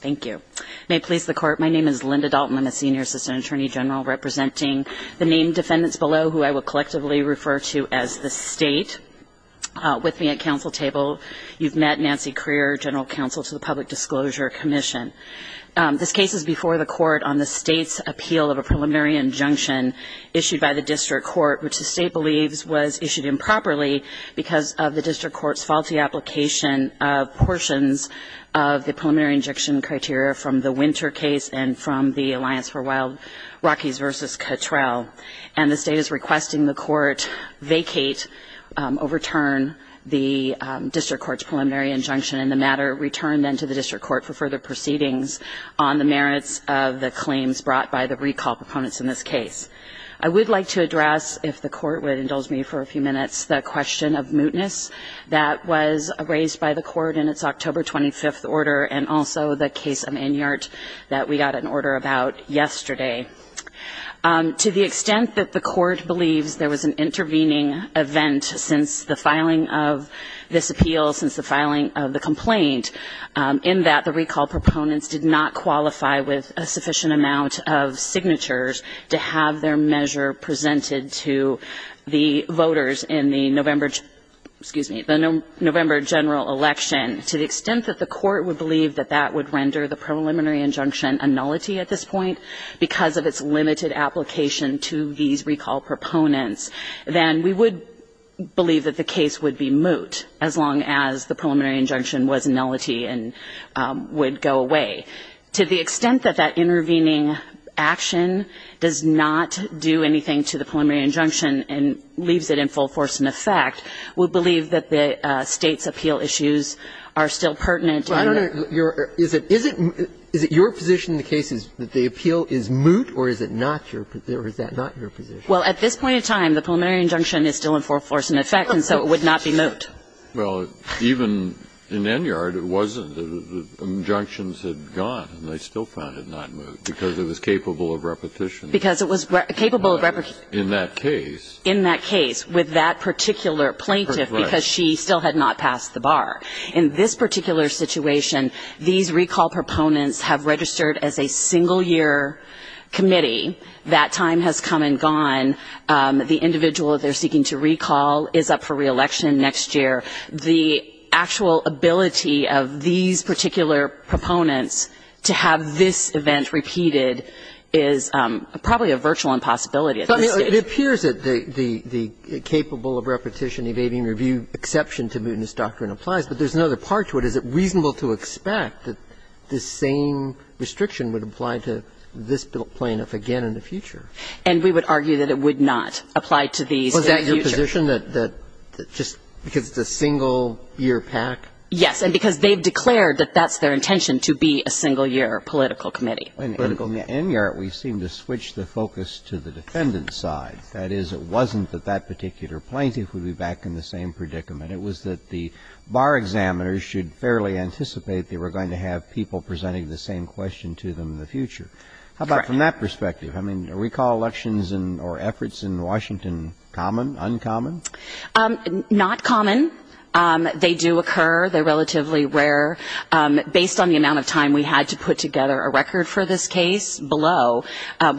Thank you. May it please the court, my name is Linda Dalton. I'm a senior assistant attorney general representing the named defendants below who I will collectively refer to as the state. With me at council table, you've met Nancy Crear, general counsel to the Public Disclosure Commission. This case is before the court on the state's appeal of a preliminary injunction issued by the district court, which the state believes was issued improperly because of the district court's faulty application of portions of the preliminary injunction criteria from the Winter case and from the Alliance for Wild Rockies v. Cottrell. And the state is requesting the court vacate, overturn the district court's preliminary injunction and the matter returned then to the district court for further proceedings on the merits of the claims brought by the recall proponents in this case. I would like to address, if the court would indulge me for a few minutes, the question of mootness that was raised by the court in its October 25th order and also the case of Inyart that we got an order about yesterday. To the extent that the court believes there was an intervening event since the filing of this appeal, since the filing of the complaint, in that the recall proponents did not qualify with a sufficient amount of signatures to have their measure presented to the voters in the November, excuse me, the November general election. To the extent that the court would believe that that would render the preliminary injunction a nullity at this point because of its limited application to these recall proponents, then we would believe that the case would be moot as long as the preliminary injunction was a nullity and would go away. To the extent that that intervening action does not do anything to the preliminary injunction and leaves it in full force and effect, we believe that the State's appeal issues are still pertinent. Breyer, is it your position in the case that the appeal is moot or is it not your position or is that not your position? Well, at this point in time, the preliminary injunction is still in full force and effect and so it would not be moot. Well, even in Enyard, it wasn't. The injunctions had gone and they still found it not moot because it was capable of repetition. Because it was capable of repetition. In that case. In that case with that particular plaintiff because she still had not passed the bar. In this particular situation, these recall proponents have registered as a single-year committee. That time has come and gone. The individual that they're seeking to recall is up for reelection next year. The actual ability of these particular proponents to have this event repeated is probably a virtual impossibility at this stage. It appears that the capable of repetition evading review exception to mootness doctrine applies, but there's another part to it. Is it reasonable to expect that this same restriction would apply to this plaintiff again in the future? And we would argue that it would not apply to these in the future. Was that your position, that just because it's a single-year PAC? Yes. And because they've declared that that's their intention, to be a single-year political committee. In Enyard, we seem to switch the focus to the defendant's side. That is, it wasn't that that particular plaintiff would be back in the same predicament. It was that the bar examiners should fairly anticipate they were going to have people presenting the same question to them in the future. How about from that perspective? I mean, are recall elections or efforts in Washington common, uncommon? Not common. They do occur. They're relatively rare. Based on the amount of time we had to put together a record for this case below,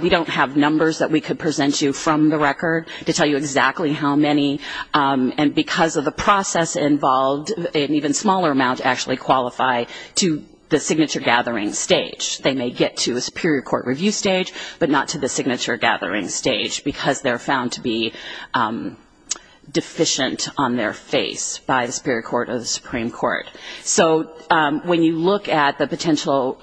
we don't have numbers that we could present you from the record to tell you exactly how many, and because of the process involved, an even smaller amount actually qualify to the signature-gathering stage. They may get to a superior court review stage, but not to the signature-gathering stage, because they're found to be deficient on their face by the superior court or the Supreme Court. So when you look at the potential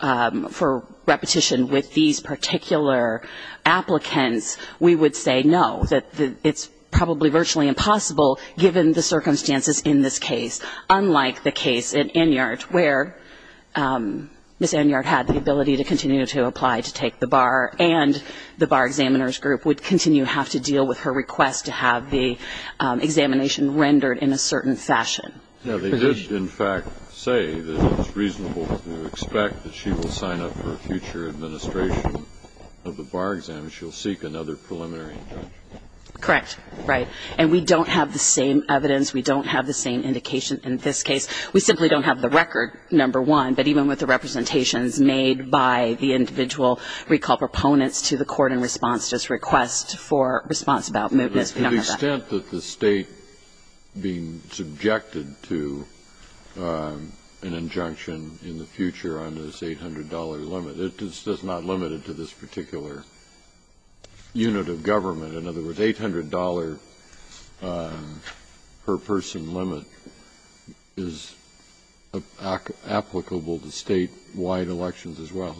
for repetition with these particular applicants, we would say no, that it's probably virtually impossible, given the circumstances in this case, unlike the case in Enyart where Ms. Enyart had the ability to continue to apply to take the bar, and the bar examiner's group would continue to have to deal with her request to have the examination rendered in a certain fashion. Now, they did, in fact, say that it's reasonable to expect that she will sign up for a future administration of the bar exam, and she'll seek another preliminary injunction. Correct. Right. And we don't have the same evidence. We don't have the same indication in this case. We simply don't have the record, number one. But even with the representations made by the individual recall proponents to the court in response to this request for response about mootness, we don't have that. But the extent that the State being subjected to an injunction in the future on this $800 limit, it's just not limited to this particular unit of government. In other words, $800 per person limit is applicable to State-wide elections as well.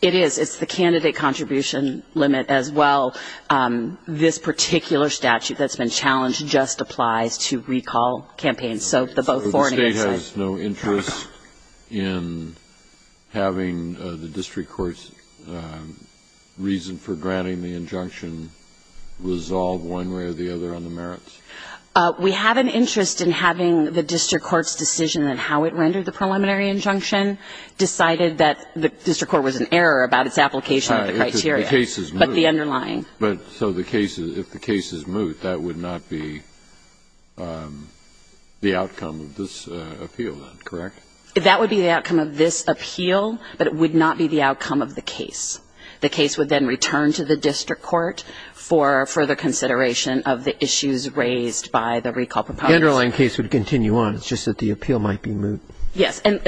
It is. It's the candidate contribution limit as well. This particular statute that's been challenged just applies to recall campaigns, so the vote for and against. So the State has no interest in having the district court's reason for granting the injunction resolved one way or the other on the merits? We have an interest in having the district court's decision on how it rendered the preliminary injunction decided that the district court was in error about its application of the criteria. The case is moot. But the underlying. So if the case is moot, that would not be the outcome of this appeal, then, correct? That would be the outcome of this appeal, but it would not be the outcome of the case. The case would then return to the district court for further consideration of the issues raised by the recall proponents. The underlying case would continue on, it's just that the appeal might be moot. Yes. And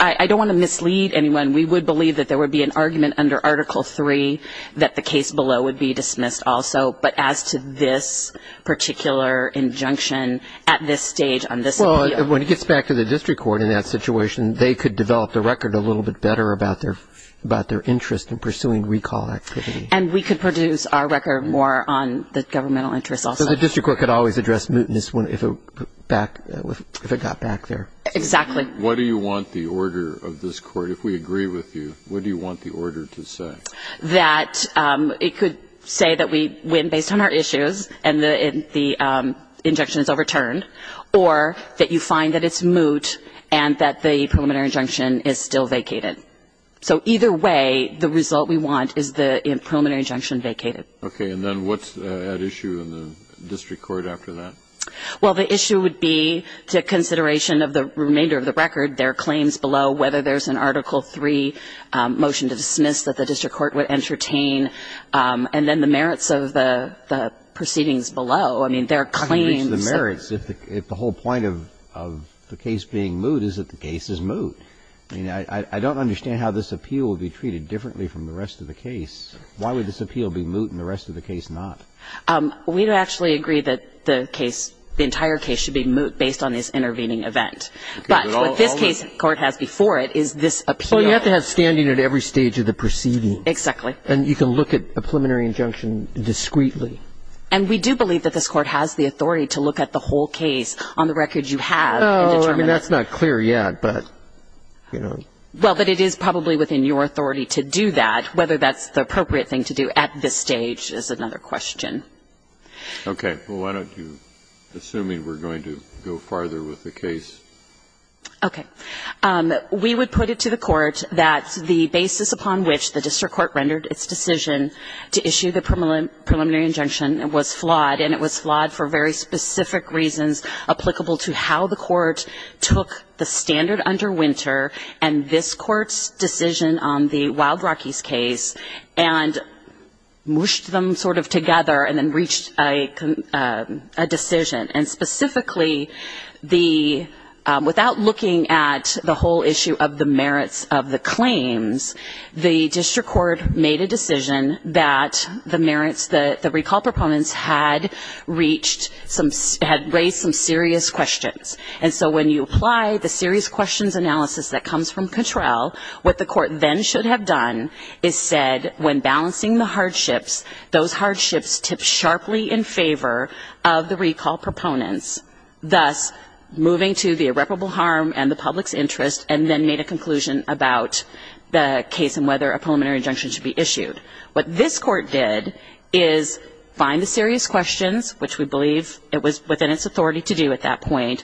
I don't want to mislead anyone. We would believe that there would be an argument under Article III that the case below would be dismissed also, but as to this particular injunction at this stage on this appeal. Well, when it gets back to the district court in that situation, they could develop the record a little bit better about their interest in pursuing recall activity. And we could produce our record more on the governmental interest also. So the district court could always address mootness if it got back there. Exactly. What do you want the order of this Court, if we agree with you, what do you want the order to say? That it could say that we win based on our issues and the injunction is overturned, or that you find that it's moot and that the preliminary injunction is still vacated. So either way, the result we want is the preliminary injunction vacated. Okay. And then what's at issue in the district court after that? Well, the issue would be to consideration of the remainder of the record, their claims below, whether there's an Article III motion to dismiss that the district court would entertain, and then the merits of the proceedings below. I mean, their claims. I mean, the merits, if the whole point of the case being moot is that the case is moot. I mean, I don't understand how this appeal would be treated differently from the rest of the case. Why would this appeal be moot and the rest of the case not? We'd actually agree that the case, the entire case should be moot based on this intervening event. But what this case court has before it is this appeal. Well, you have to have standing at every stage of the proceeding. And you can look at a preliminary injunction discreetly. And we do believe that this Court has the authority to look at the whole case on the record you have. Oh, I mean, that's not clear yet, but, you know. Well, but it is probably within your authority to do that. Whether that's the appropriate thing to do at this stage is another question. Okay. Well, why don't you, assuming we're going to go farther with the case. Okay. We would put it to the Court that the basis upon which the district court rendered its decision to issue the preliminary injunction was flawed. And it was flawed for very specific reasons applicable to how the Court took the standard under Winter and this Court's decision on the Wild Rockies case and mushed them sort of together and then reached a decision. And specifically, without looking at the whole issue of the merits of the claims, the district court made a decision that the merits that the recall proponents had reached had raised some serious questions. And so when you apply the serious questions analysis that comes from Cattrall, what the Court then should have done is said when balancing the hardships, those hardships tip sharply in favor of the recall proponents, thus moving to the irreparable harm and the public's interest, and then made a conclusion about the case and whether a preliminary injunction should be issued. What this Court did is find the serious questions, which we believe it was within its authority to do at that point,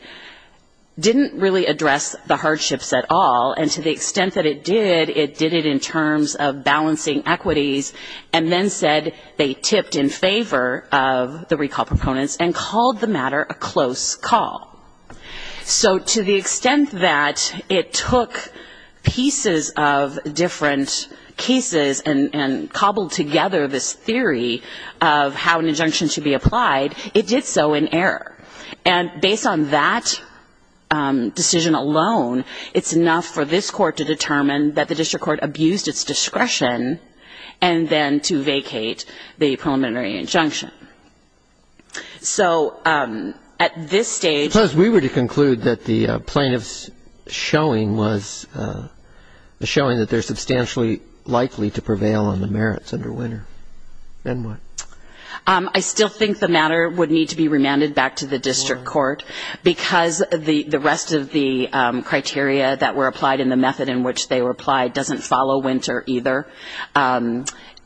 didn't really address the hardships at all. And to the extent that it did, it did it in terms of balancing equities and then said they tipped in favor of the recall proponents and called the matter a close call. So to the extent that it took pieces of different cases and cobbled together this theory of how an injunction should be applied, it did so in error. And based on that decision alone, it's enough for this Court to determine that the district court abused its discretion and then to vacate the preliminary injunction. So at this stage we were to conclude that the plaintiff's showing was showing that they're substantially likely to prevail on the merits under Winter. I still think the matter would need to be remanded back to the district court because the rest of the criteria that were applied in the method in which they were applied doesn't follow Winter either.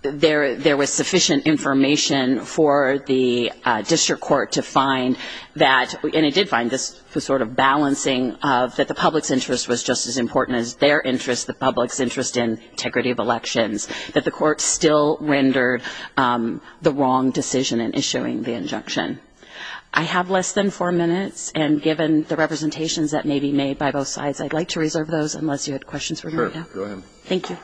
There was sufficient information for the district court to find that, and it did find this sort of balancing of that the public's interest was just as important as their interest, the public's interest in integrity of elections, that the court still rendered the wrong decision in issuing the injunction. I have less than four minutes, and given the representations that may be made by the district court, I would like to turn it over to Mr. Taki Flavaris. Thank you.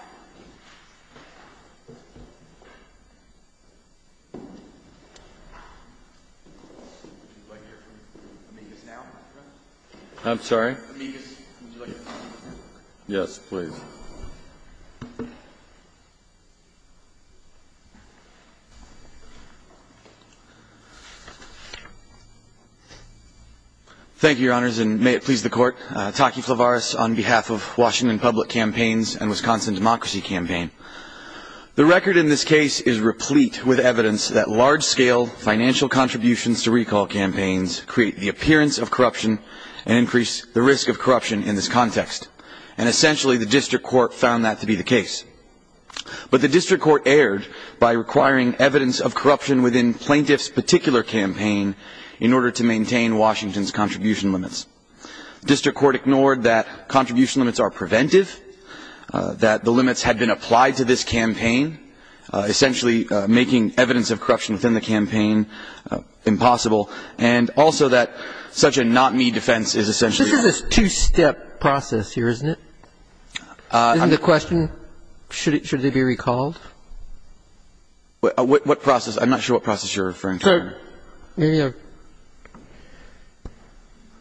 I'm sorry. Thank you, Your Honors. And may it please the Court, Taki Flavaris on behalf of Washington Public Campaigns and Wisconsin Democracy Campaign. The record in this case is replete with evidence that large-scale financial contributions to recall campaigns create the appearance of corruption and increase the risk of corruption in this context. And essentially the district court found that to be the case. But the district court erred by requiring evidence of corruption within plaintiff's particular campaign in order to maintain Washington's contribution limits. The district court ignored that contribution limits are preventive, that the limits had been applied to this campaign, essentially making evidence of corruption within the campaign impossible, and also that such a not-me defense is essentially and essentially making evidence of corruption within the campaign impossible. This is a two-step process here, isn't it? Isn't the question, should they be recalled? What process? I'm not sure what process you're referring to.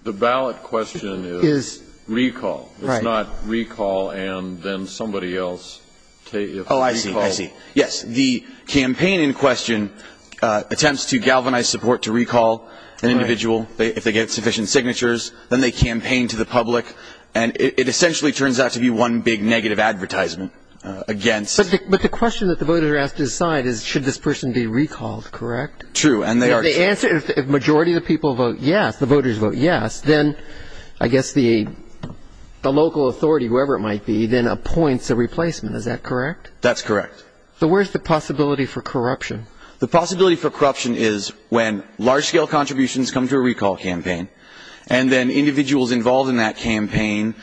The ballot question is recall. It's not recall and then somebody else. Oh, I see. I see. Yes. The campaign in question attempts to galvanize support to recall an individual. If they get sufficient signatures, then they campaign to the public. And it essentially turns out to be one big negative advertisement against. But the question that the voters are asked to decide is should this person be recalled, correct? True. And they are. If the majority of the people vote yes, the voters vote yes, then I guess the local authority, whoever it might be, then appoints a replacement. Is that correct? That's correct. So where's the possibility for corruption? The possibility for corruption is when large-scale contributions come to a recall campaign and then individuals involved in that campaign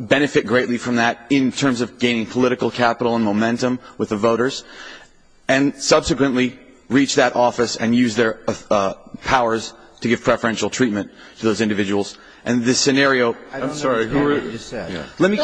benefit greatly from that in terms of gaining political capital and momentum with the voters, and subsequently reach that office and use their powers to give preferential treatment to those individuals. And this scenario – I don't know what you just said. Let me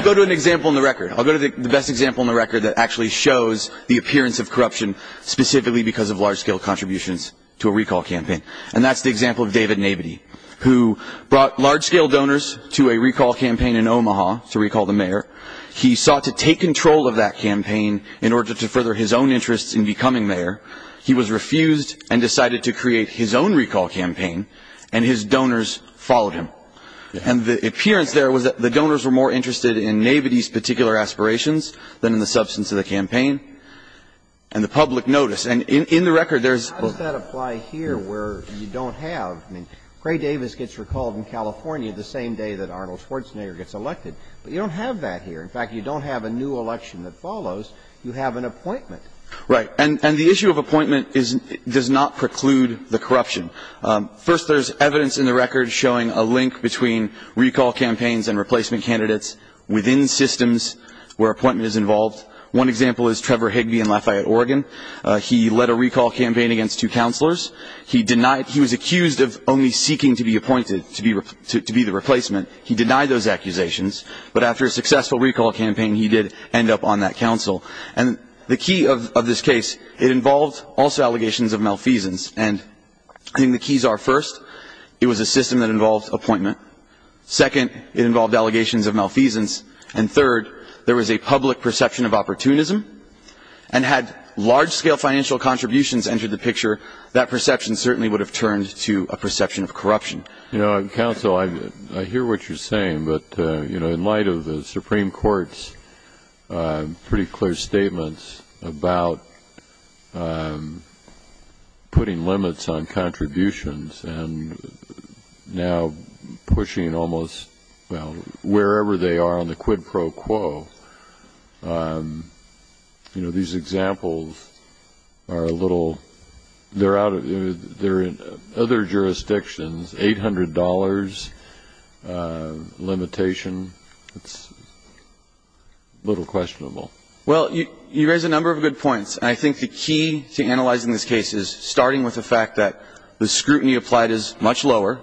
go to an example in the record. I'll go to the best example in the record that actually shows the appearance of corruption specifically because of large-scale contributions to a recall campaign. And that's the example of David Nabity, who brought large-scale donors to a recall campaign in Omaha to recall the mayor. He sought to take control of that campaign in order to further his own interests in becoming mayor. He was refused and decided to create his own recall campaign, and his donors followed him. And the appearance there was that the donors were more interested in Nabity's particular aspirations than in the substance of the campaign and the public notice. And in the record, there's – How does that apply here where you don't have – I mean, Gray Davis gets recalled in California the same day that Arnold Schwarzenegger gets elected. But you don't have that here. In fact, you don't have a new election that follows. You have an appointment. Right. And the issue of appointment is – does not preclude the corruption. First, there's evidence in the record showing a link between recall campaigns and replacement candidates within systems where appointment is involved. One example is Trevor Higbee in Lafayette, Oregon. He led a recall campaign against two counselors. He denied – he was accused of only seeking to be appointed, to be the replacement. He denied those accusations. But after a successful recall campaign, he did end up on that counsel. And the key of this case, it involved also allegations of malfeasance. And I think the keys are, first, it was a system that involved appointment. Second, it involved allegations of malfeasance. And third, there was a public perception of opportunism. And had large-scale financial contributions entered the picture, that perception certainly would have turned to a perception of corruption. You know, Counsel, I hear what you're saying. But, you know, in light of the Supreme Court's pretty clear statements about putting limits on contributions and now pushing almost, well, wherever they are on the quid pro quo, you know, these examples are a little – they're out of – they're in other jurisdictions. $800 limitation, it's a little questionable. Well, you raise a number of good points. And I think the key to analyzing this case is starting with the fact that the scrutiny applied is much lower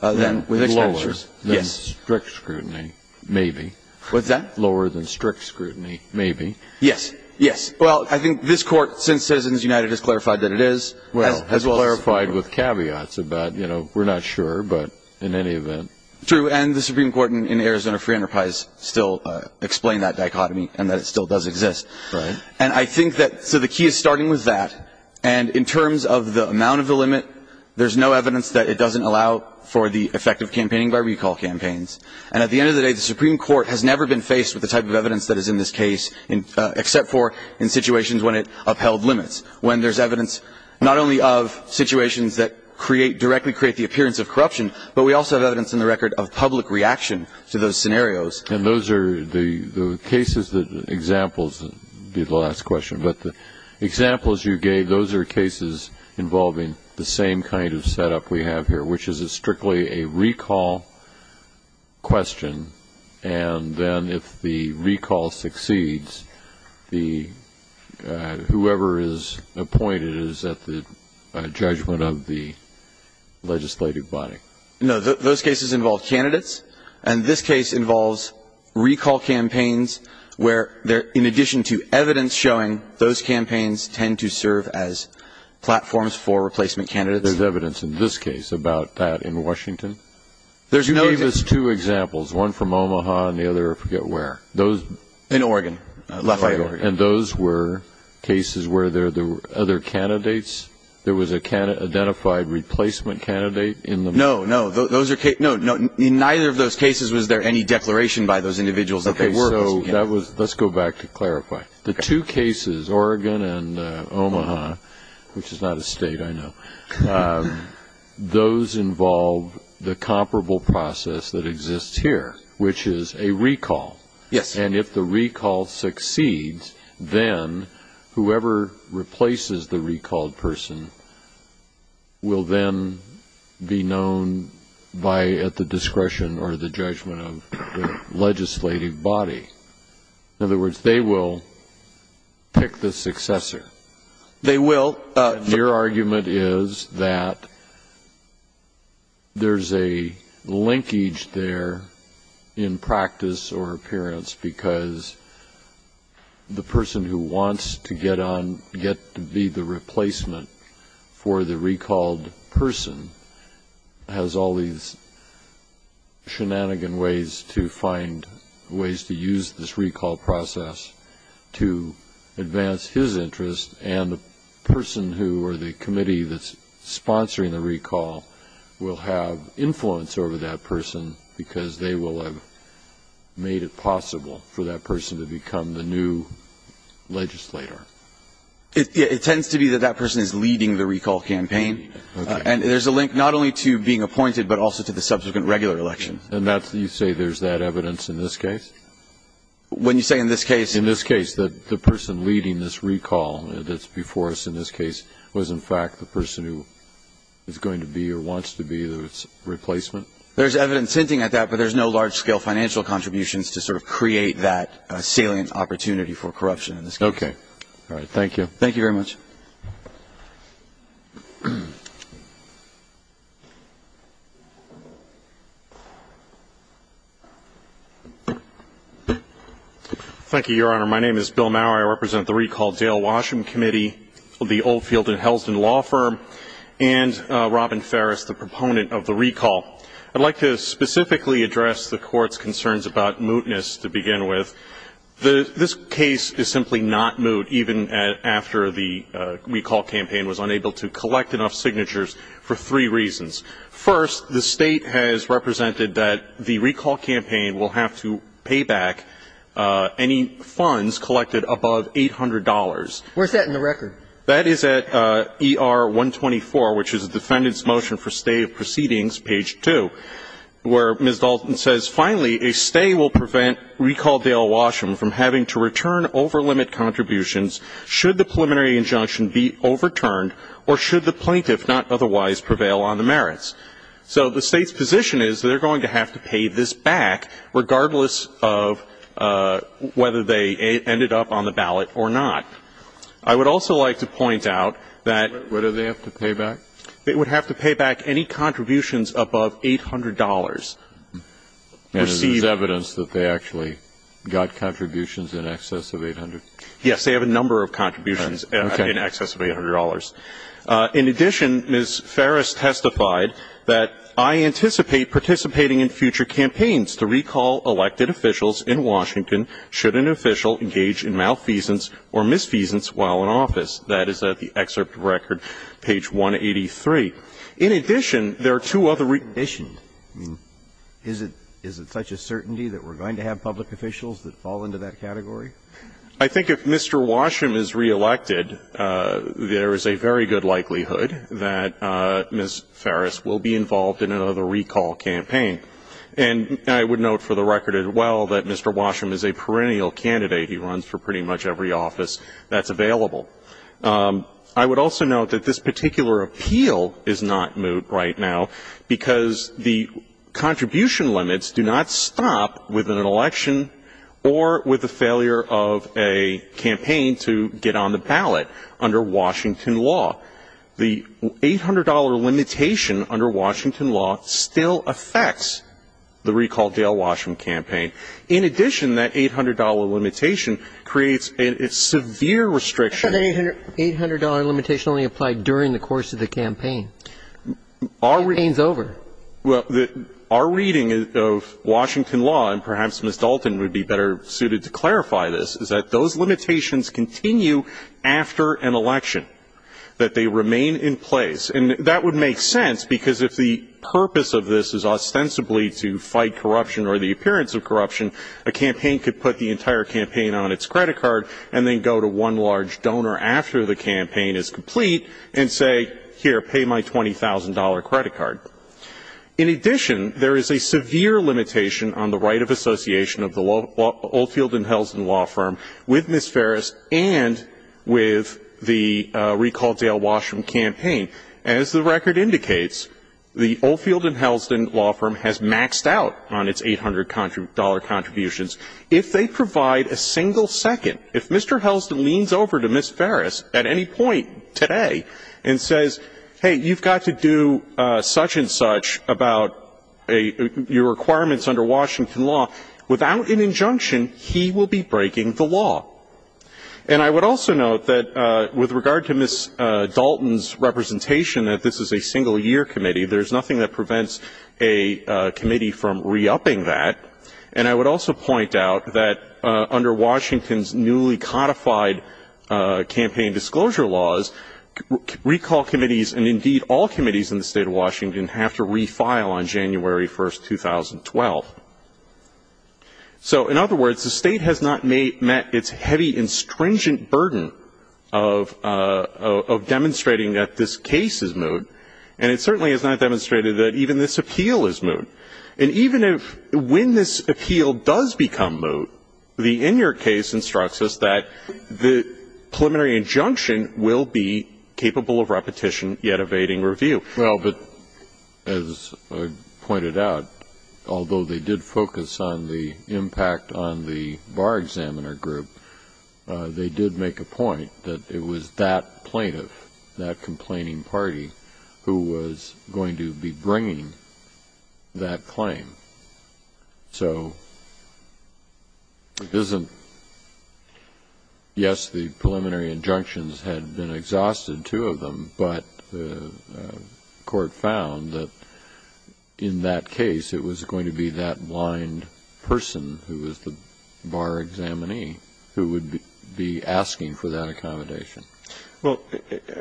than with expenditures. Lower than strict scrutiny, maybe. What's that? Lower than strict scrutiny, maybe. Yes. Yes. Well, I think this Court, since Citizens United has clarified that it is, as well as – Well, has clarified with caveats about, you know, we're not sure, but in any event. True. And the Supreme Court in Arizona Free Enterprise still explained that dichotomy and that it still does exist. Right. And I think that – so the key is starting with that. And in terms of the amount of the limit, there's no evidence that it doesn't allow for the effective campaigning by recall campaigns. And at the end of the day, the Supreme Court has never been faced with the type of evidence that is in this case, except for in situations when it upheld limits. When there's evidence not only of situations that create – directly create the appearance of corruption, but we also have evidence in the record of public reaction to those scenarios. And those are the cases that – examples would be the last question. But the examples you gave, those are cases involving the same kind of setup we have here, which is strictly a recall question. And then if the recall succeeds, the – whoever is appointed is at the judgment of the legislative body. No, those cases involve candidates. And this case involves recall campaigns where, in addition to evidence showing, those campaigns tend to serve as platforms for replacement candidates. There's evidence in this case about that in Washington. There's no – You gave us two examples, one from Omaha and the other, I forget where. Those – In Oregon. And those were cases where there were other candidates. There was an identified replacement candidate in the – No, no. Those are – no, no. In neither of those cases was there any declaration by those individuals that they were – Okay. So that was – let's go back to clarify. The two cases, Oregon and Omaha, which is not a state, I know, those involve the comparable process that exists here, which is a recall. Yes. And if the recall succeeds, then whoever replaces the recalled person will then be known by – at the discretion or the judgment of the legislative body. In other words, they will pick the successor. They will. Your argument is that there's a linkage there in practice or appearance, because the person who wants to get on – get to be the replacement for the recalled has all these shenanigan ways to find ways to use this recall process to advance his interest, and the person who or the committee that's sponsoring the recall will have influence over that person because they will have made it possible for that person to become the new legislator. It tends to be that that person is leading the recall campaign. Okay. And there's a link not only to being appointed but also to the subsequent regular election. And that's – you say there's that evidence in this case? When you say in this case – In this case that the person leading this recall that's before us in this case was in fact the person who is going to be or wants to be the replacement? There's evidence hinting at that, but there's no large-scale financial contributions to sort of create that salient opportunity for corruption. Okay. All right. Thank you. Thank you very much. Thank you, Your Honor. My name is Bill Maurer. I represent the recall, Dale Washam Committee of the Oldfield and Helsden Law Firm and Robin Ferris, the proponent of the recall. I'd like to specifically address the Court's concerns about mootness to begin with. This case is simply not moot, even after the recall campaign was unable to collect enough signatures for three reasons. First, the State has represented that the recall campaign will have to pay back any funds collected above $800. Where's that in the record? That is at ER-124, which is the Defendant's Motion for Stay of Proceedings, page 2, where Ms. Dalton says, Finally, a stay will prevent recall Dale Washam from having to return over-limit contributions should the preliminary injunction be overturned or should the plaintiff not otherwise prevail on the merits. So the State's position is they're going to have to pay this back, regardless of whether they ended up on the ballot or not. I would also like to point out that they would have to pay back any contributions above $800 received. And there's evidence that they actually got contributions in excess of $800? Yes, they have a number of contributions in excess of $800. In addition, Ms. Ferris testified that I anticipate participating in future campaigns to recall elected officials in Washington should an official engage in malfeasance or misfeasance while in office. That is at the excerpt record, page 183. In addition, there are two other In addition? I mean, is it such a certainty that we're going to have public officials that fall into that category? I think if Mr. Washam is reelected, there is a very good likelihood that Ms. Ferris will be involved in another recall campaign. And I would note for the record as well that Mr. Washam is a perennial candidate. He runs for pretty much every office that's available. I would also note that this particular appeal is not moot right now because the contribution limits do not stop with an election or with the failure of a campaign to get on the ballot under Washington law. The $800 limitation under Washington law still affects the recall Dale Washam campaign. In addition, that $800 limitation creates a severe restriction. But the $800 limitation only applied during the course of the campaign. The campaign's over. Well, our reading of Washington law, and perhaps Ms. Dalton would be better suited to clarify this, is that those limitations continue after an election, that they remain in place. And that would make sense because if the purpose of this is ostensibly to fight corruption or the appearance of corruption, a campaign could put the entire campaign on its credit card and then go to one large donor after the campaign is complete and say, here, pay my $20,000 credit card. In addition, there is a severe limitation on the right of association of the Oldfield and Helsden law firm with Ms. Ferris and with the recall Dale Washam campaign. As the record indicates, the Oldfield and Helsden law firm has maxed out on its $800 contributions. If they provide a single second, if Mr. Helsden leans over to Ms. Ferris at any point today and says, hey, you've got to do such and such about your requirements under Washington law, without an injunction, he will be breaking the law. And I would also note that with regard to Ms. Dalton's representation that this is a single-year committee, there is nothing that prevents a committee from re-upping that. And I would also point out that under Washington's newly codified campaign disclosure laws, recall committees and, indeed, all committees in the State of Washington have to refile on January 1, 2012. So, in other words, the State has not met its heavy and stringent burden of demonstrating that this case is moot, and it certainly has not demonstrated that even this appeal is moot. And even if when this appeal does become moot, the in your case instructs us that the preliminary injunction will be capable of repetition, yet evading review. Well, but as I pointed out, although they did focus on the impact on the bar examiner group, they did make a point that it was that plaintiff, that complaining party, who was going to be bringing that claim. So it isn't yes, the preliminary injunctions had been exhausted, two of them, but the court found that in that case it was going to be that blind person who was the bar examinee who would be asking for that accommodation. Well,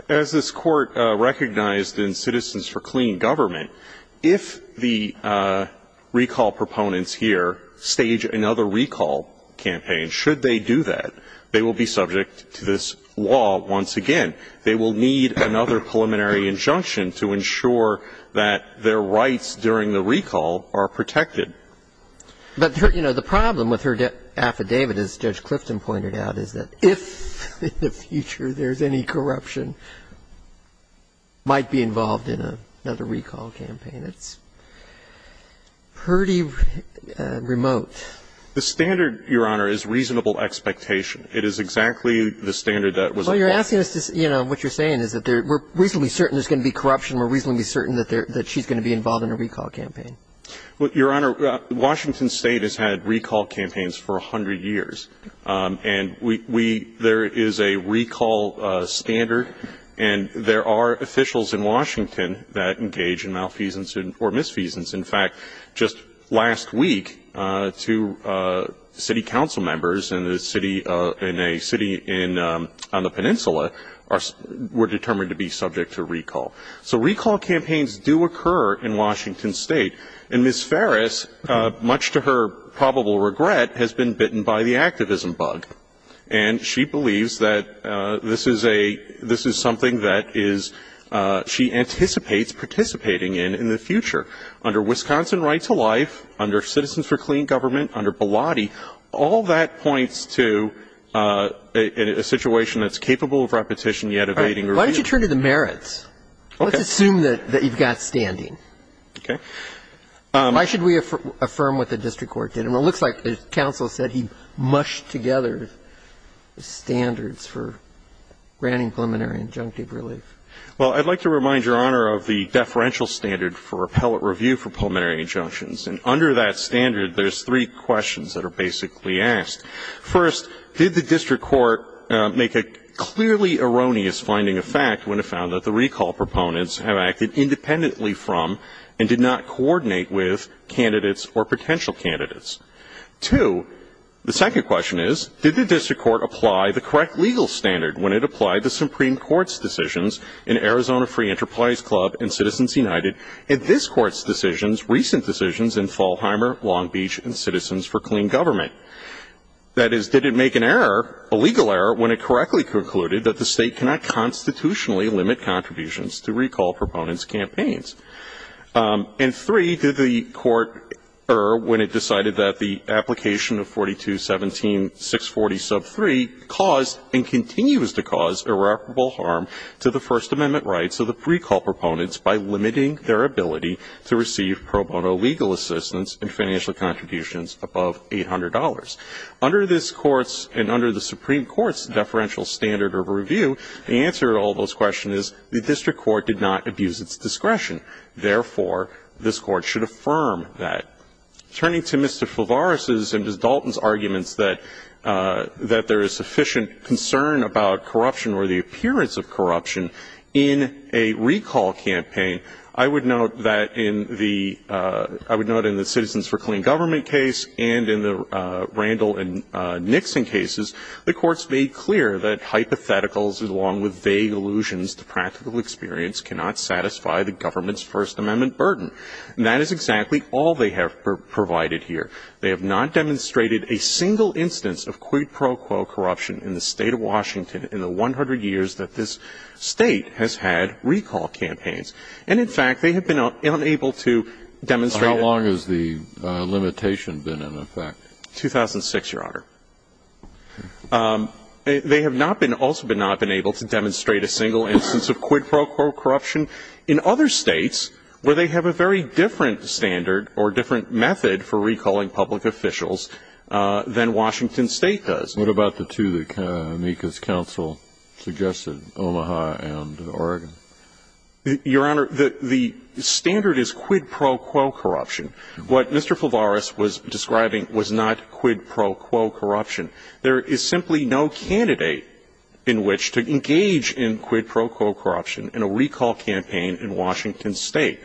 as this Court recognized in Citizens for Clean Government, if the recall proponents here stage another recall campaign, should they do that, they will be subject to this law once again. They will need another preliminary injunction to ensure that their rights during the recall are protected. But, you know, the problem with her affidavit, as Judge Clifton pointed out, is that if in the future there's any corruption, might be involved in another recall campaign. It's pretty remote. The standard, Your Honor, is reasonable expectation. It is exactly the standard that was applied. Well, you're asking us to, you know, what you're saying is that we're reasonably certain there's going to be corruption. We're reasonably certain that she's going to be involved in a recall campaign. Well, Your Honor, Washington State has had recall campaigns for 100 years. And we – there is a recall standard, and there are officials in Washington that engage in malfeasance or misfeasance. In fact, just last week, two city council members in a city on the peninsula were determined to be subject to recall. So recall campaigns do occur in Washington State. And Ms. Ferris, much to her probable regret, has been bitten by the activism bug. And she believes that this is a – this is something that is – she anticipates participating in in the future. Under Wisconsin Right to Life, under Citizens for Clean Government, under Bilotti, all that points to a situation that's capable of repetition, yet evading review. All right. Why don't you turn to the merits? Okay. Let's assume that you've got standing. Okay. Why should we affirm what the district court did? And it looks like the counsel said he mushed together standards for granting preliminary injunctive relief. Well, I'd like to remind Your Honor of the deferential standard for appellate review for preliminary injunctions. And under that standard, there's three questions that are basically asked. First, did the district court make a clearly erroneous finding of fact when it found that the recall proponents have acted independently from and did not coordinate with candidates or potential candidates? Two, the second question is, did the district court apply the correct legal standard when it applied the Supreme Court's decisions in Arizona Free Enterprise Club and Citizens United? And this Court's decisions, recent decisions in Fallheimer, Long Beach, and Citizens for Clean Government? That is, did it make an error, a legal error, when it correctly concluded that the State cannot constitutionally limit contributions to recall proponents' campaigns? And three, did the Court err when it decided that the application of 4217-640-3 caused and continues to cause irreparable harm to the First Amendment rights of the applicants and their ability to receive pro bono legal assistance in financial contributions above $800? Under this Court's and under the Supreme Court's deferential standard of review, the answer to all those questions is the district court did not abuse its discretion. Therefore, this Court should affirm that. Turning to Mr. Fulvariz's and Ms. Dalton's arguments that there is sufficient concern about corruption or the appearance of corruption in a recall campaign, I would note that in the – I would note in the Citizens for Clean Government case and in the Randall and Nixon cases, the Court's made clear that hypotheticals along with vague allusions to practical experience cannot satisfy the government's First Amendment burden. And that is exactly all they have provided here. They have not demonstrated a single instance of quid pro quo corruption in the State of Washington in the 100 years that this State has had recall campaigns. And, in fact, they have been unable to demonstrate it. How long has the limitation been in effect? 2006, Your Honor. They have not been – also have not been able to demonstrate a single instance of quid pro quo corruption in other states where they have a very different standard or different method for recalling public officials than Washington State does. What about the two that Amica's counsel suggested, Omaha and Oregon? Your Honor, the standard is quid pro quo corruption. What Mr. Fulvariz was describing was not quid pro quo corruption. There is simply no candidate in which to engage in quid pro quo corruption in a recall campaign in Washington State.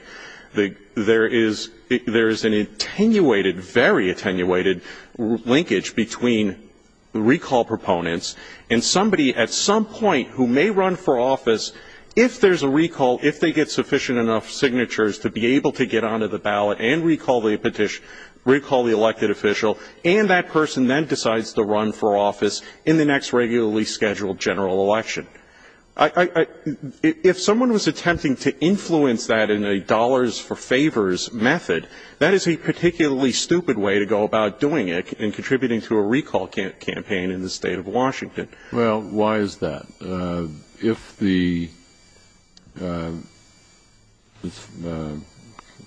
There is an attenuated, very attenuated linkage between recall proponents and somebody at some point who may run for office if there's a recall, if they get sufficient enough signatures to be able to get onto the ballot and recall the elected official. And that person then decides to run for office in the next regularly scheduled general election. I – if someone was attempting to influence that in a dollars-for-favors method, that is a particularly stupid way to go about doing it in contributing to a recall campaign in the State of Washington. Well, why is that? If the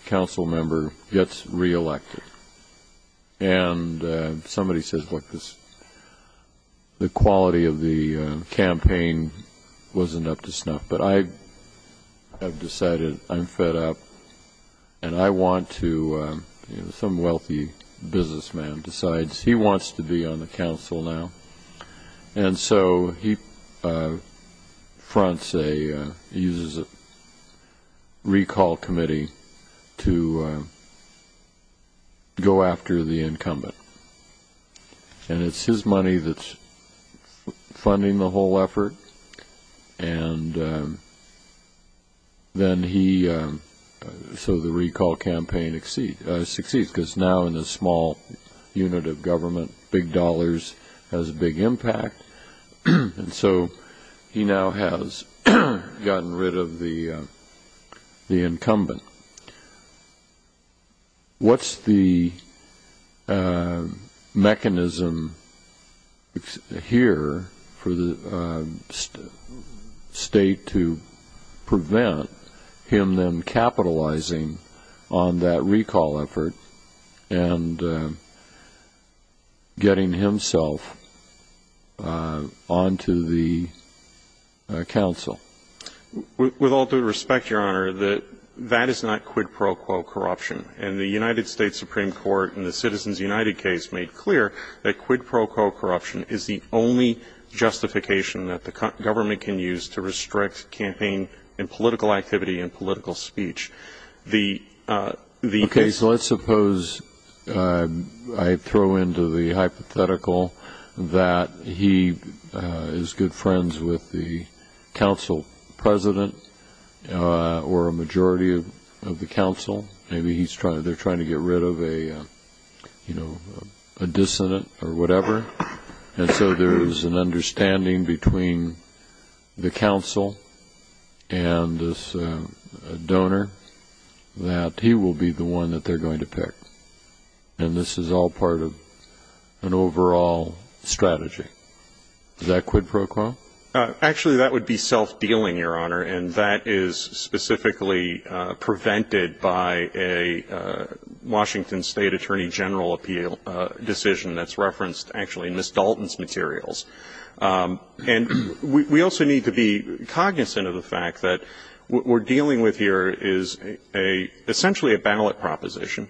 council member gets reelected and somebody says, look, the quality of the campaign wasn't up to snuff, but I have decided I'm fed up and I want to – some wealthy businessman decides he wants to be on the council now. And so he fronts a – uses a recall committee to go after the incumbent. And it's his money that's funding the whole effort, and then he – so the recall campaign succeeds because now in a small unit of government, big dollars has a big impact. And so he now has gotten rid of the incumbent. What's the mechanism here for the state to prevent him then capitalizing on that recall effort and getting himself onto the council? With all due respect, Your Honor, that is not quid pro quo corruption. And the United States Supreme Court in the Citizens United case made clear that quid pro quo corruption is the only justification that the government can use to restrict campaign and political activity and political speech. Okay, so let's suppose I throw into the hypothetical that he is good friends with the council president or a majority of the council. Maybe he's trying – they're trying to get rid of a, you know, a dissident or whatever. And so there is an understanding between the council and this donor that he will be the one that they're going to pick. And this is all part of an overall strategy. Is that quid pro quo? Actually, that would be self-dealing, Your Honor, and that is specifically prevented by a Washington State Attorney General appeal decision that's referenced actually in Ms. Dalton's materials. And we also need to be cognizant of the fact that what we're dealing with here is essentially a ballot proposition.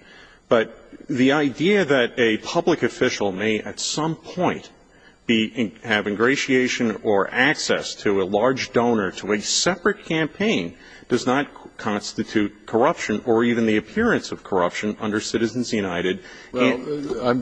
But the idea that a public official may at some point have ingratiation or access to a large donor to a separate campaign does not constitute corruption or even the appearance of corruption under Citizens United. Well,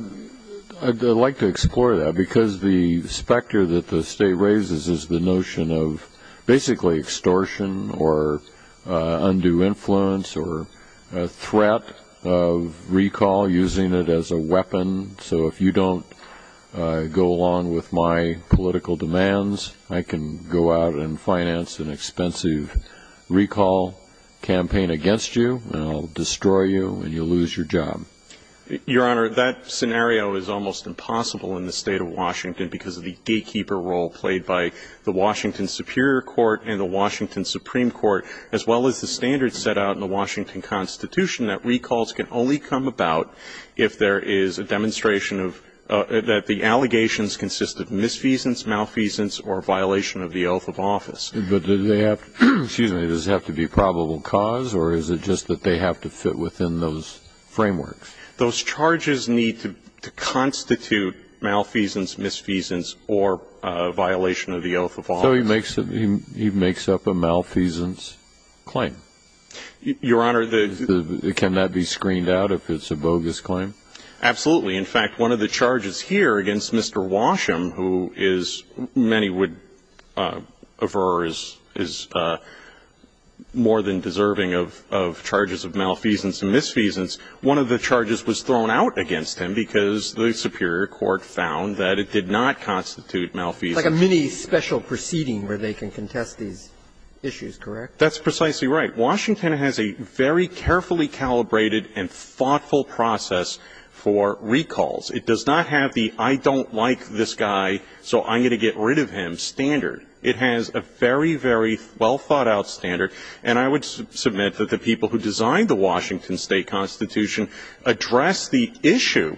I'd like to explore that, because the specter that the state raises is the notion of basically extortion or undue influence or a threat of recall using it as a weapon. So if you don't go along with my political demands, I can go out and finance an expensive recall campaign against you, and I'll destroy you, and you'll lose your job. Your Honor, that scenario is almost impossible in the State of Washington because of the gatekeeper role played by the Washington Superior Court and the Washington Supreme Court, as well as the standards set out in the Washington Constitution that recalls can only come about if there is a demonstration that the allegations consist of misfeasance, malfeasance, or violation of the oath of office. But do they have to be probable cause, or is it just that they have to fit within those frameworks? Those charges need to constitute malfeasance, misfeasance, or violation of the oath of office. So he makes up a malfeasance claim. Your Honor, the ---- Can that be screened out if it's a bogus claim? Absolutely. In fact, one of the charges here against Mr. Washam, who is, many would aver, is more than deserving of charges of malfeasance and misfeasance, one of the charges was thrown out against him because the Superior Court found that it did not constitute malfeasance. Like a mini-special proceeding where they can contest these issues, correct? That's precisely right. Washington has a very carefully calibrated and thoughtful process for recalls. It does not have the I don't like this guy, so I'm going to get rid of him standard. It has a very, very well-thought-out standard. And I would submit that the people who designed the Washington State Constitution address the issue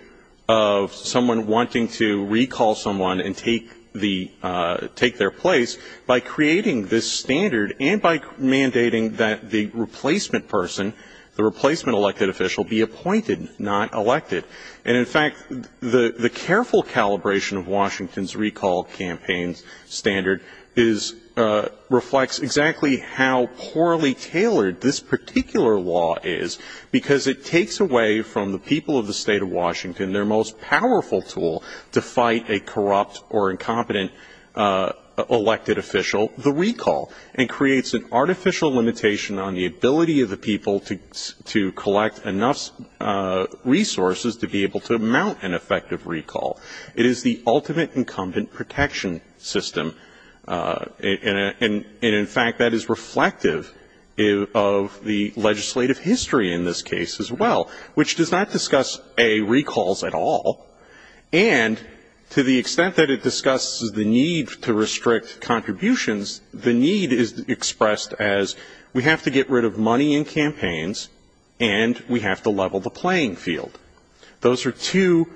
of someone wanting to recall someone and take the ---- take their place by creating this standard and by mandating that the replacement person, the replacement elected official, be appointed, not elected. And in fact, the careful calibration of Washington's recall campaign standard is reflects exactly how poorly tailored this particular law is, because it takes away from the people of the State of Washington their most powerful tool to fight a corrupt or incompetent elected official, the recall, and creates an artificial limitation on the ability of the people to collect enough resources to be able to mount an effective recall. It is the ultimate incumbent protection system. And in fact, that is reflective of the legislative history in this case as well, which does not discuss, A, recalls at all. And to the extent that it discusses the need to restrict contributions, the need is expressed as we have to get rid of money in campaigns and we have to level the playing field. Those are two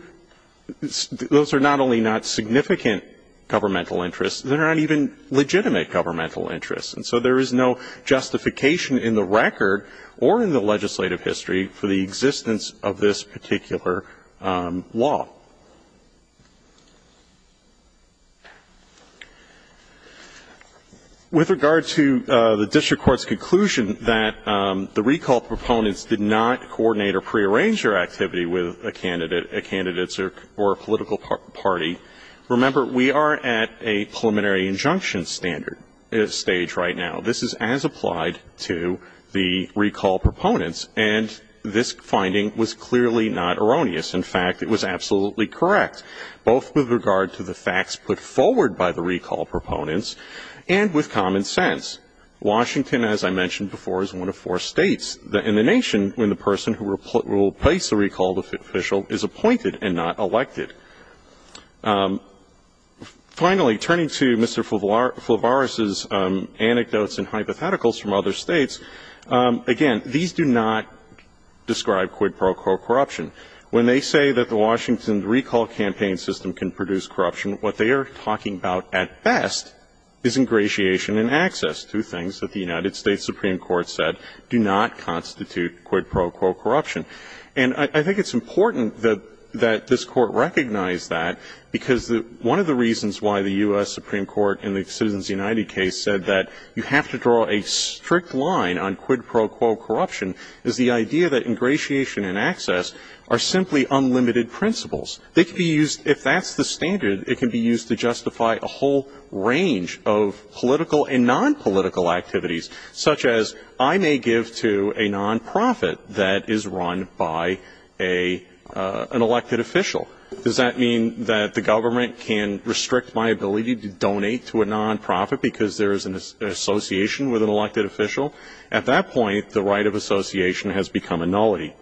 ---- those are not only not significant governmental interests, they're not even legitimate governmental interests. And so there is no justification in the record or in the legislative history for the existence of this particular law. With regard to the district court's conclusion that the recall proponents did not coordinate or prearrange their activity with a candidate, a candidate or a political party, remember, we are at a preliminary injunction standard stage right now. This is as applied to the recall proponents. And this finding was clearly not erroneous. In fact, it was absolutely correct, both with regard to the facts put forward by the recall proponents and with common sense. Washington, as I mentioned before, is one of four states in the nation when the person who will place the recall official is appointed and not elected. Finally, turning to Mr. Flavaris' anecdotes and hypotheticals from other states, again, these do not describe quid pro quo corruption. When they say that the Washington recall campaign system can produce corruption, what they are talking about at best is ingratiation and access to things that the United States Supreme Court said do not constitute quid pro quo corruption. And I think it's important that this Court recognize that because one of the reasons why the U.S. Supreme Court in the Citizens United case said that you have to draw a strict line on quid pro quo corruption is the idea that ingratiation and access are simply unlimited principles. They can be used, if that's the standard, it can be used to justify a whole range of political and nonpolitical activities, such as I may give to a nonprofit that is run by an elected official. Does that mean that the government can restrict my ability to donate to a nonprofit because there is an association with an elected official? At that point, the right of association has become a nullity.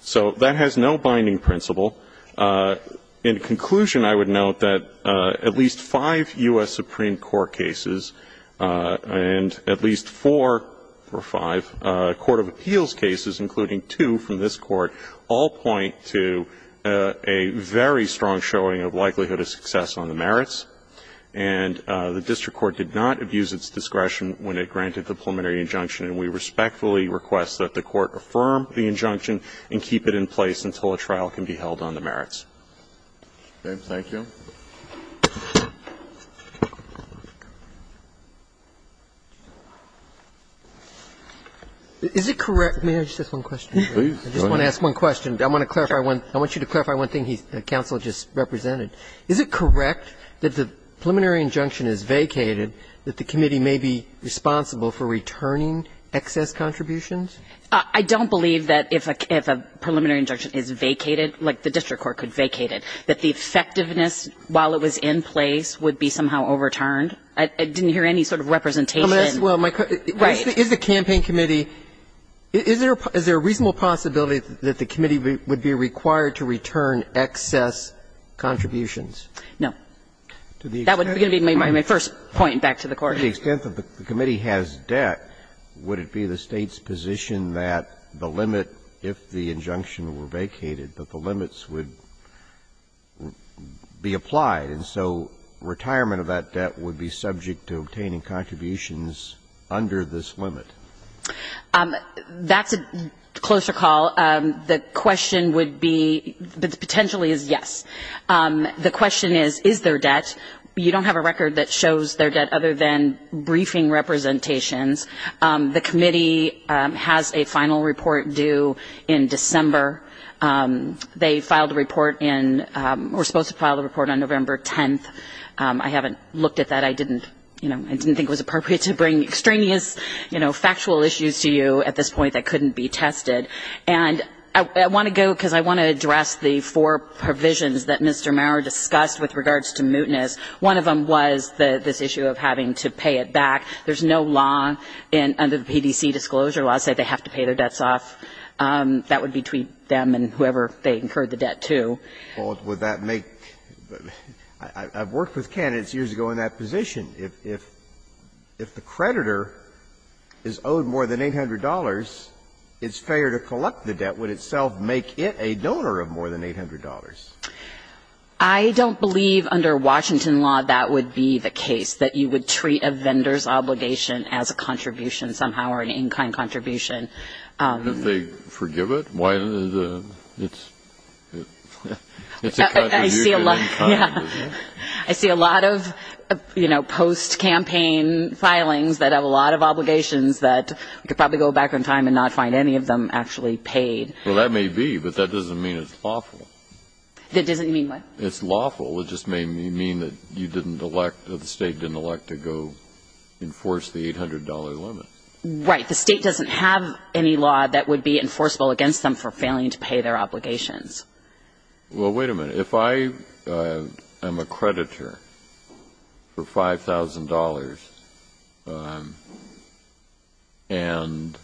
So that has no binding principle. In conclusion, I would note that at least five U.S. Supreme Court cases and at least four or five court of appeals cases, including two from this Court, all point to a very strong showing of likelihood of success on the merits, and the district court did not abuse its discretion when it granted the preliminary injunction, and we respectfully request that the Court affirm the injunction and keep it in place until a trial can be held on the merits. Thank you. Is it correct? May I just ask one question? Please. I just want to ask one question. I want to clarify one thing the counsel just represented. Is it correct that the preliminary injunction is vacated, that the committee may be responsible for returning excess contributions? I don't believe that if a preliminary injunction is vacated, like the district court could vacate it, that the effectiveness while it was in place would be somehow overturned. I didn't hear any sort of representation. Well, my question is, is the campaign committee, is there a reasonable possibility that the committee would be required to return excess contributions? No. That would be my first point back to the Court. To the extent that the committee has debt, would it be the State's position that the limit, if the injunction were vacated, that the limits would be applied? And so retirement of that debt would be subject to obtaining contributions under this limit. That's a closer call. The question would be, potentially is yes. The question is, is there debt? You don't have a record that shows there debt other than briefing representations. The committee has a final report due in December. They filed a report in or were supposed to file a report on November 10th. I haven't looked at that. I didn't, you know, I didn't think it was appropriate to bring extraneous, you know, factual issues to you at this point that couldn't be tested. And I want to go, because I want to address the four provisions that Mr. Maurer discussed with regards to mootness. One of them was this issue of having to pay it back. There's no law under the PDC disclosure law that says they have to pay their debts off. That would be between them and whoever they incurred the debt to. Well, would that make the – I've worked with candidates years ago in that position. If the creditor is owed more than $800, it's fair to collect the debt. Would itself make it a donor of more than $800? I don't believe under Washington law that would be the case, that you would treat a vendor's obligation as a contribution somehow or an in-kind contribution. If they forgive it? It's a contribution in kind. I see a lot of, you know, post-campaign filings that have a lot of obligations that could probably go back in time and not find any of them actually paid. Well, that may be, but that doesn't mean it's lawful. It doesn't mean what? It's lawful. It just may mean that you didn't elect, that the State didn't elect to go enforce the $800 limit. Right. The State doesn't have any law that would be enforceable against them for failing to pay their obligations. Well, wait a minute. If I am a creditor for $5,000 and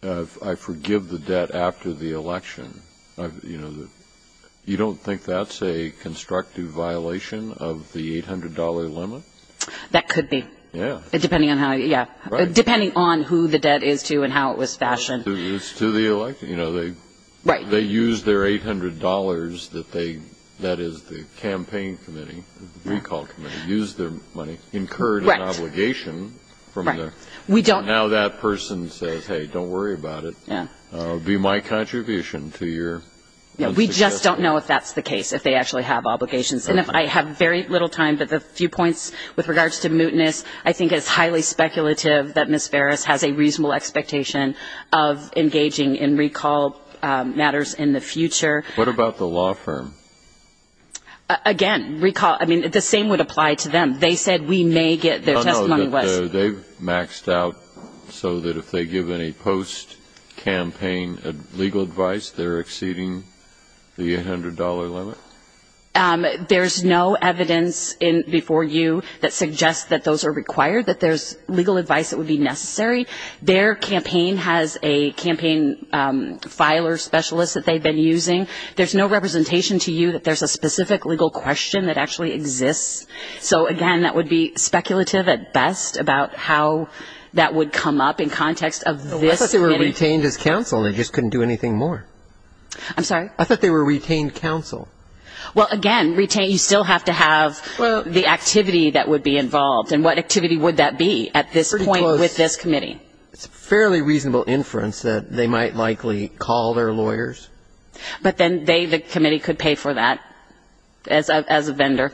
I forgive the debt after the election, you know, you don't think that's a constructive violation of the $800 limit? That could be. Yeah. Depending on how, yeah. Right. Depending on who the debt is to and how it was fashioned. It's to the election. You know, they used their $800 that they, that is the campaign committee, recall committee, used their money, incurred an obligation from there. Right. And now that person says, hey, don't worry about it. Yeah. You know, it would be my contribution to your unsuccessful. Yeah. We just don't know if that's the case, if they actually have obligations. And I have very little time, but the few points with regards to mootness, I think it's highly speculative that Ms. Farris has a reasonable expectation of engaging in recall matters in the future. What about the law firm? Again, recall, I mean, the same would apply to them. They said we may get their testimony. But they've maxed out so that if they give any post-campaign legal advice, they're exceeding the $800 limit? There's no evidence before you that suggests that those are required, that there's legal advice that would be necessary. Their campaign has a campaign filer specialist that they've been using. There's no representation to you that there's a specific legal question that actually exists. So, again, that would be speculative at best about how that would come up in context of this committee. I thought they were retained as counsel. They just couldn't do anything more. I'm sorry? I thought they were retained counsel. Well, again, you still have to have the activity that would be involved. And what activity would that be at this point with this committee? It's a fairly reasonable inference that they might likely call their lawyers. But then they, the committee, could pay for that as a vendor.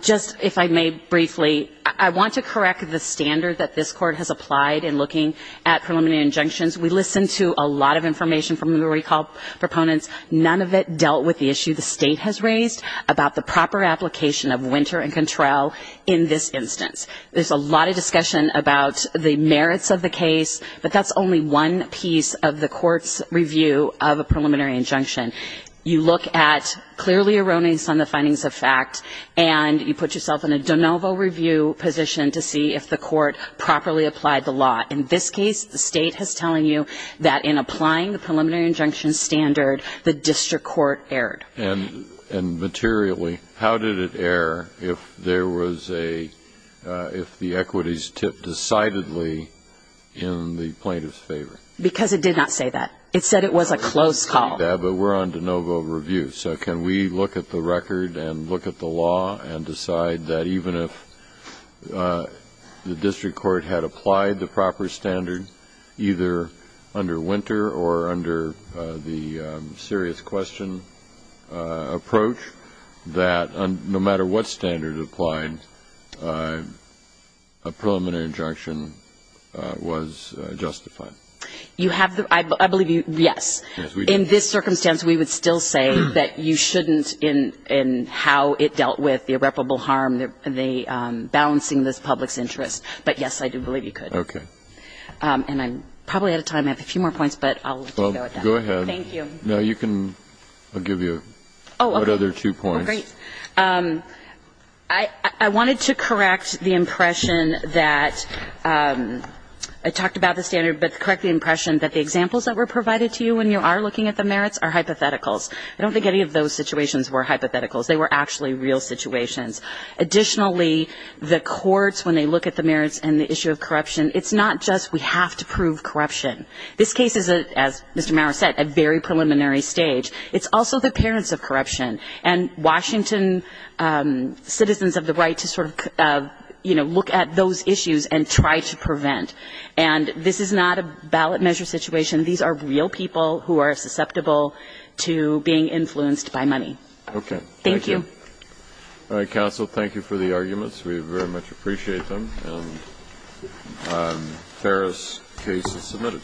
Just, if I may briefly, I want to correct the standard that this Court has applied in looking at preliminary injunctions. We listened to a lot of information from the recall proponents. None of it dealt with the issue the State has raised about the proper application of winter and control in this instance. There's a lot of discussion about the merits of the case, but that's only one piece of the Court's review of a preliminary injunction. You look at clearly erroneous on the findings of fact, and you put yourself in a de novo review position to see if the Court properly applied the law. In this case, the State is telling you that in applying the preliminary injunction standard, the district court erred. And materially, how did it err if there was a, if the equities tipped decidedly in the plaintiff's favor? Because it did not say that. It said it was a close call. But we're on de novo review. So can we look at the record and look at the law and decide that even if the district court had applied the proper standard, either under winter or under the serious question approach, that no matter what standard applied, a preliminary injunction was justified? You have the, I believe you, yes. In this circumstance, we would still say that you shouldn't in how it dealt with the irreparable harm, the balancing of the public's interest. But, yes, I do believe you could. And I'm probably out of time. I have a few more points, but I'll let you go with that. Thank you. Now you can, I'll give you another two points. Oh, great. I wanted to correct the impression that, I talked about the standard, but correct the impression that the examples that were provided to you when you are looking at the merits are hypotheticals. I don't think any of those situations were hypotheticals. They were actually real situations. Additionally, the courts, when they look at the merits and the issue of corruption, it's not just we have to prove corruption. This case is, as Mr. Maurer said, a very preliminary stage. It's also the parents of corruption. And Washington citizens have the right to sort of, you know, look at those issues and try to prevent. And this is not a ballot measure situation. These are real people who are susceptible to being influenced by money. Okay. Thank you. All right. Counsel, thank you for the arguments. We very much appreciate them. And Farrah's case is submitted.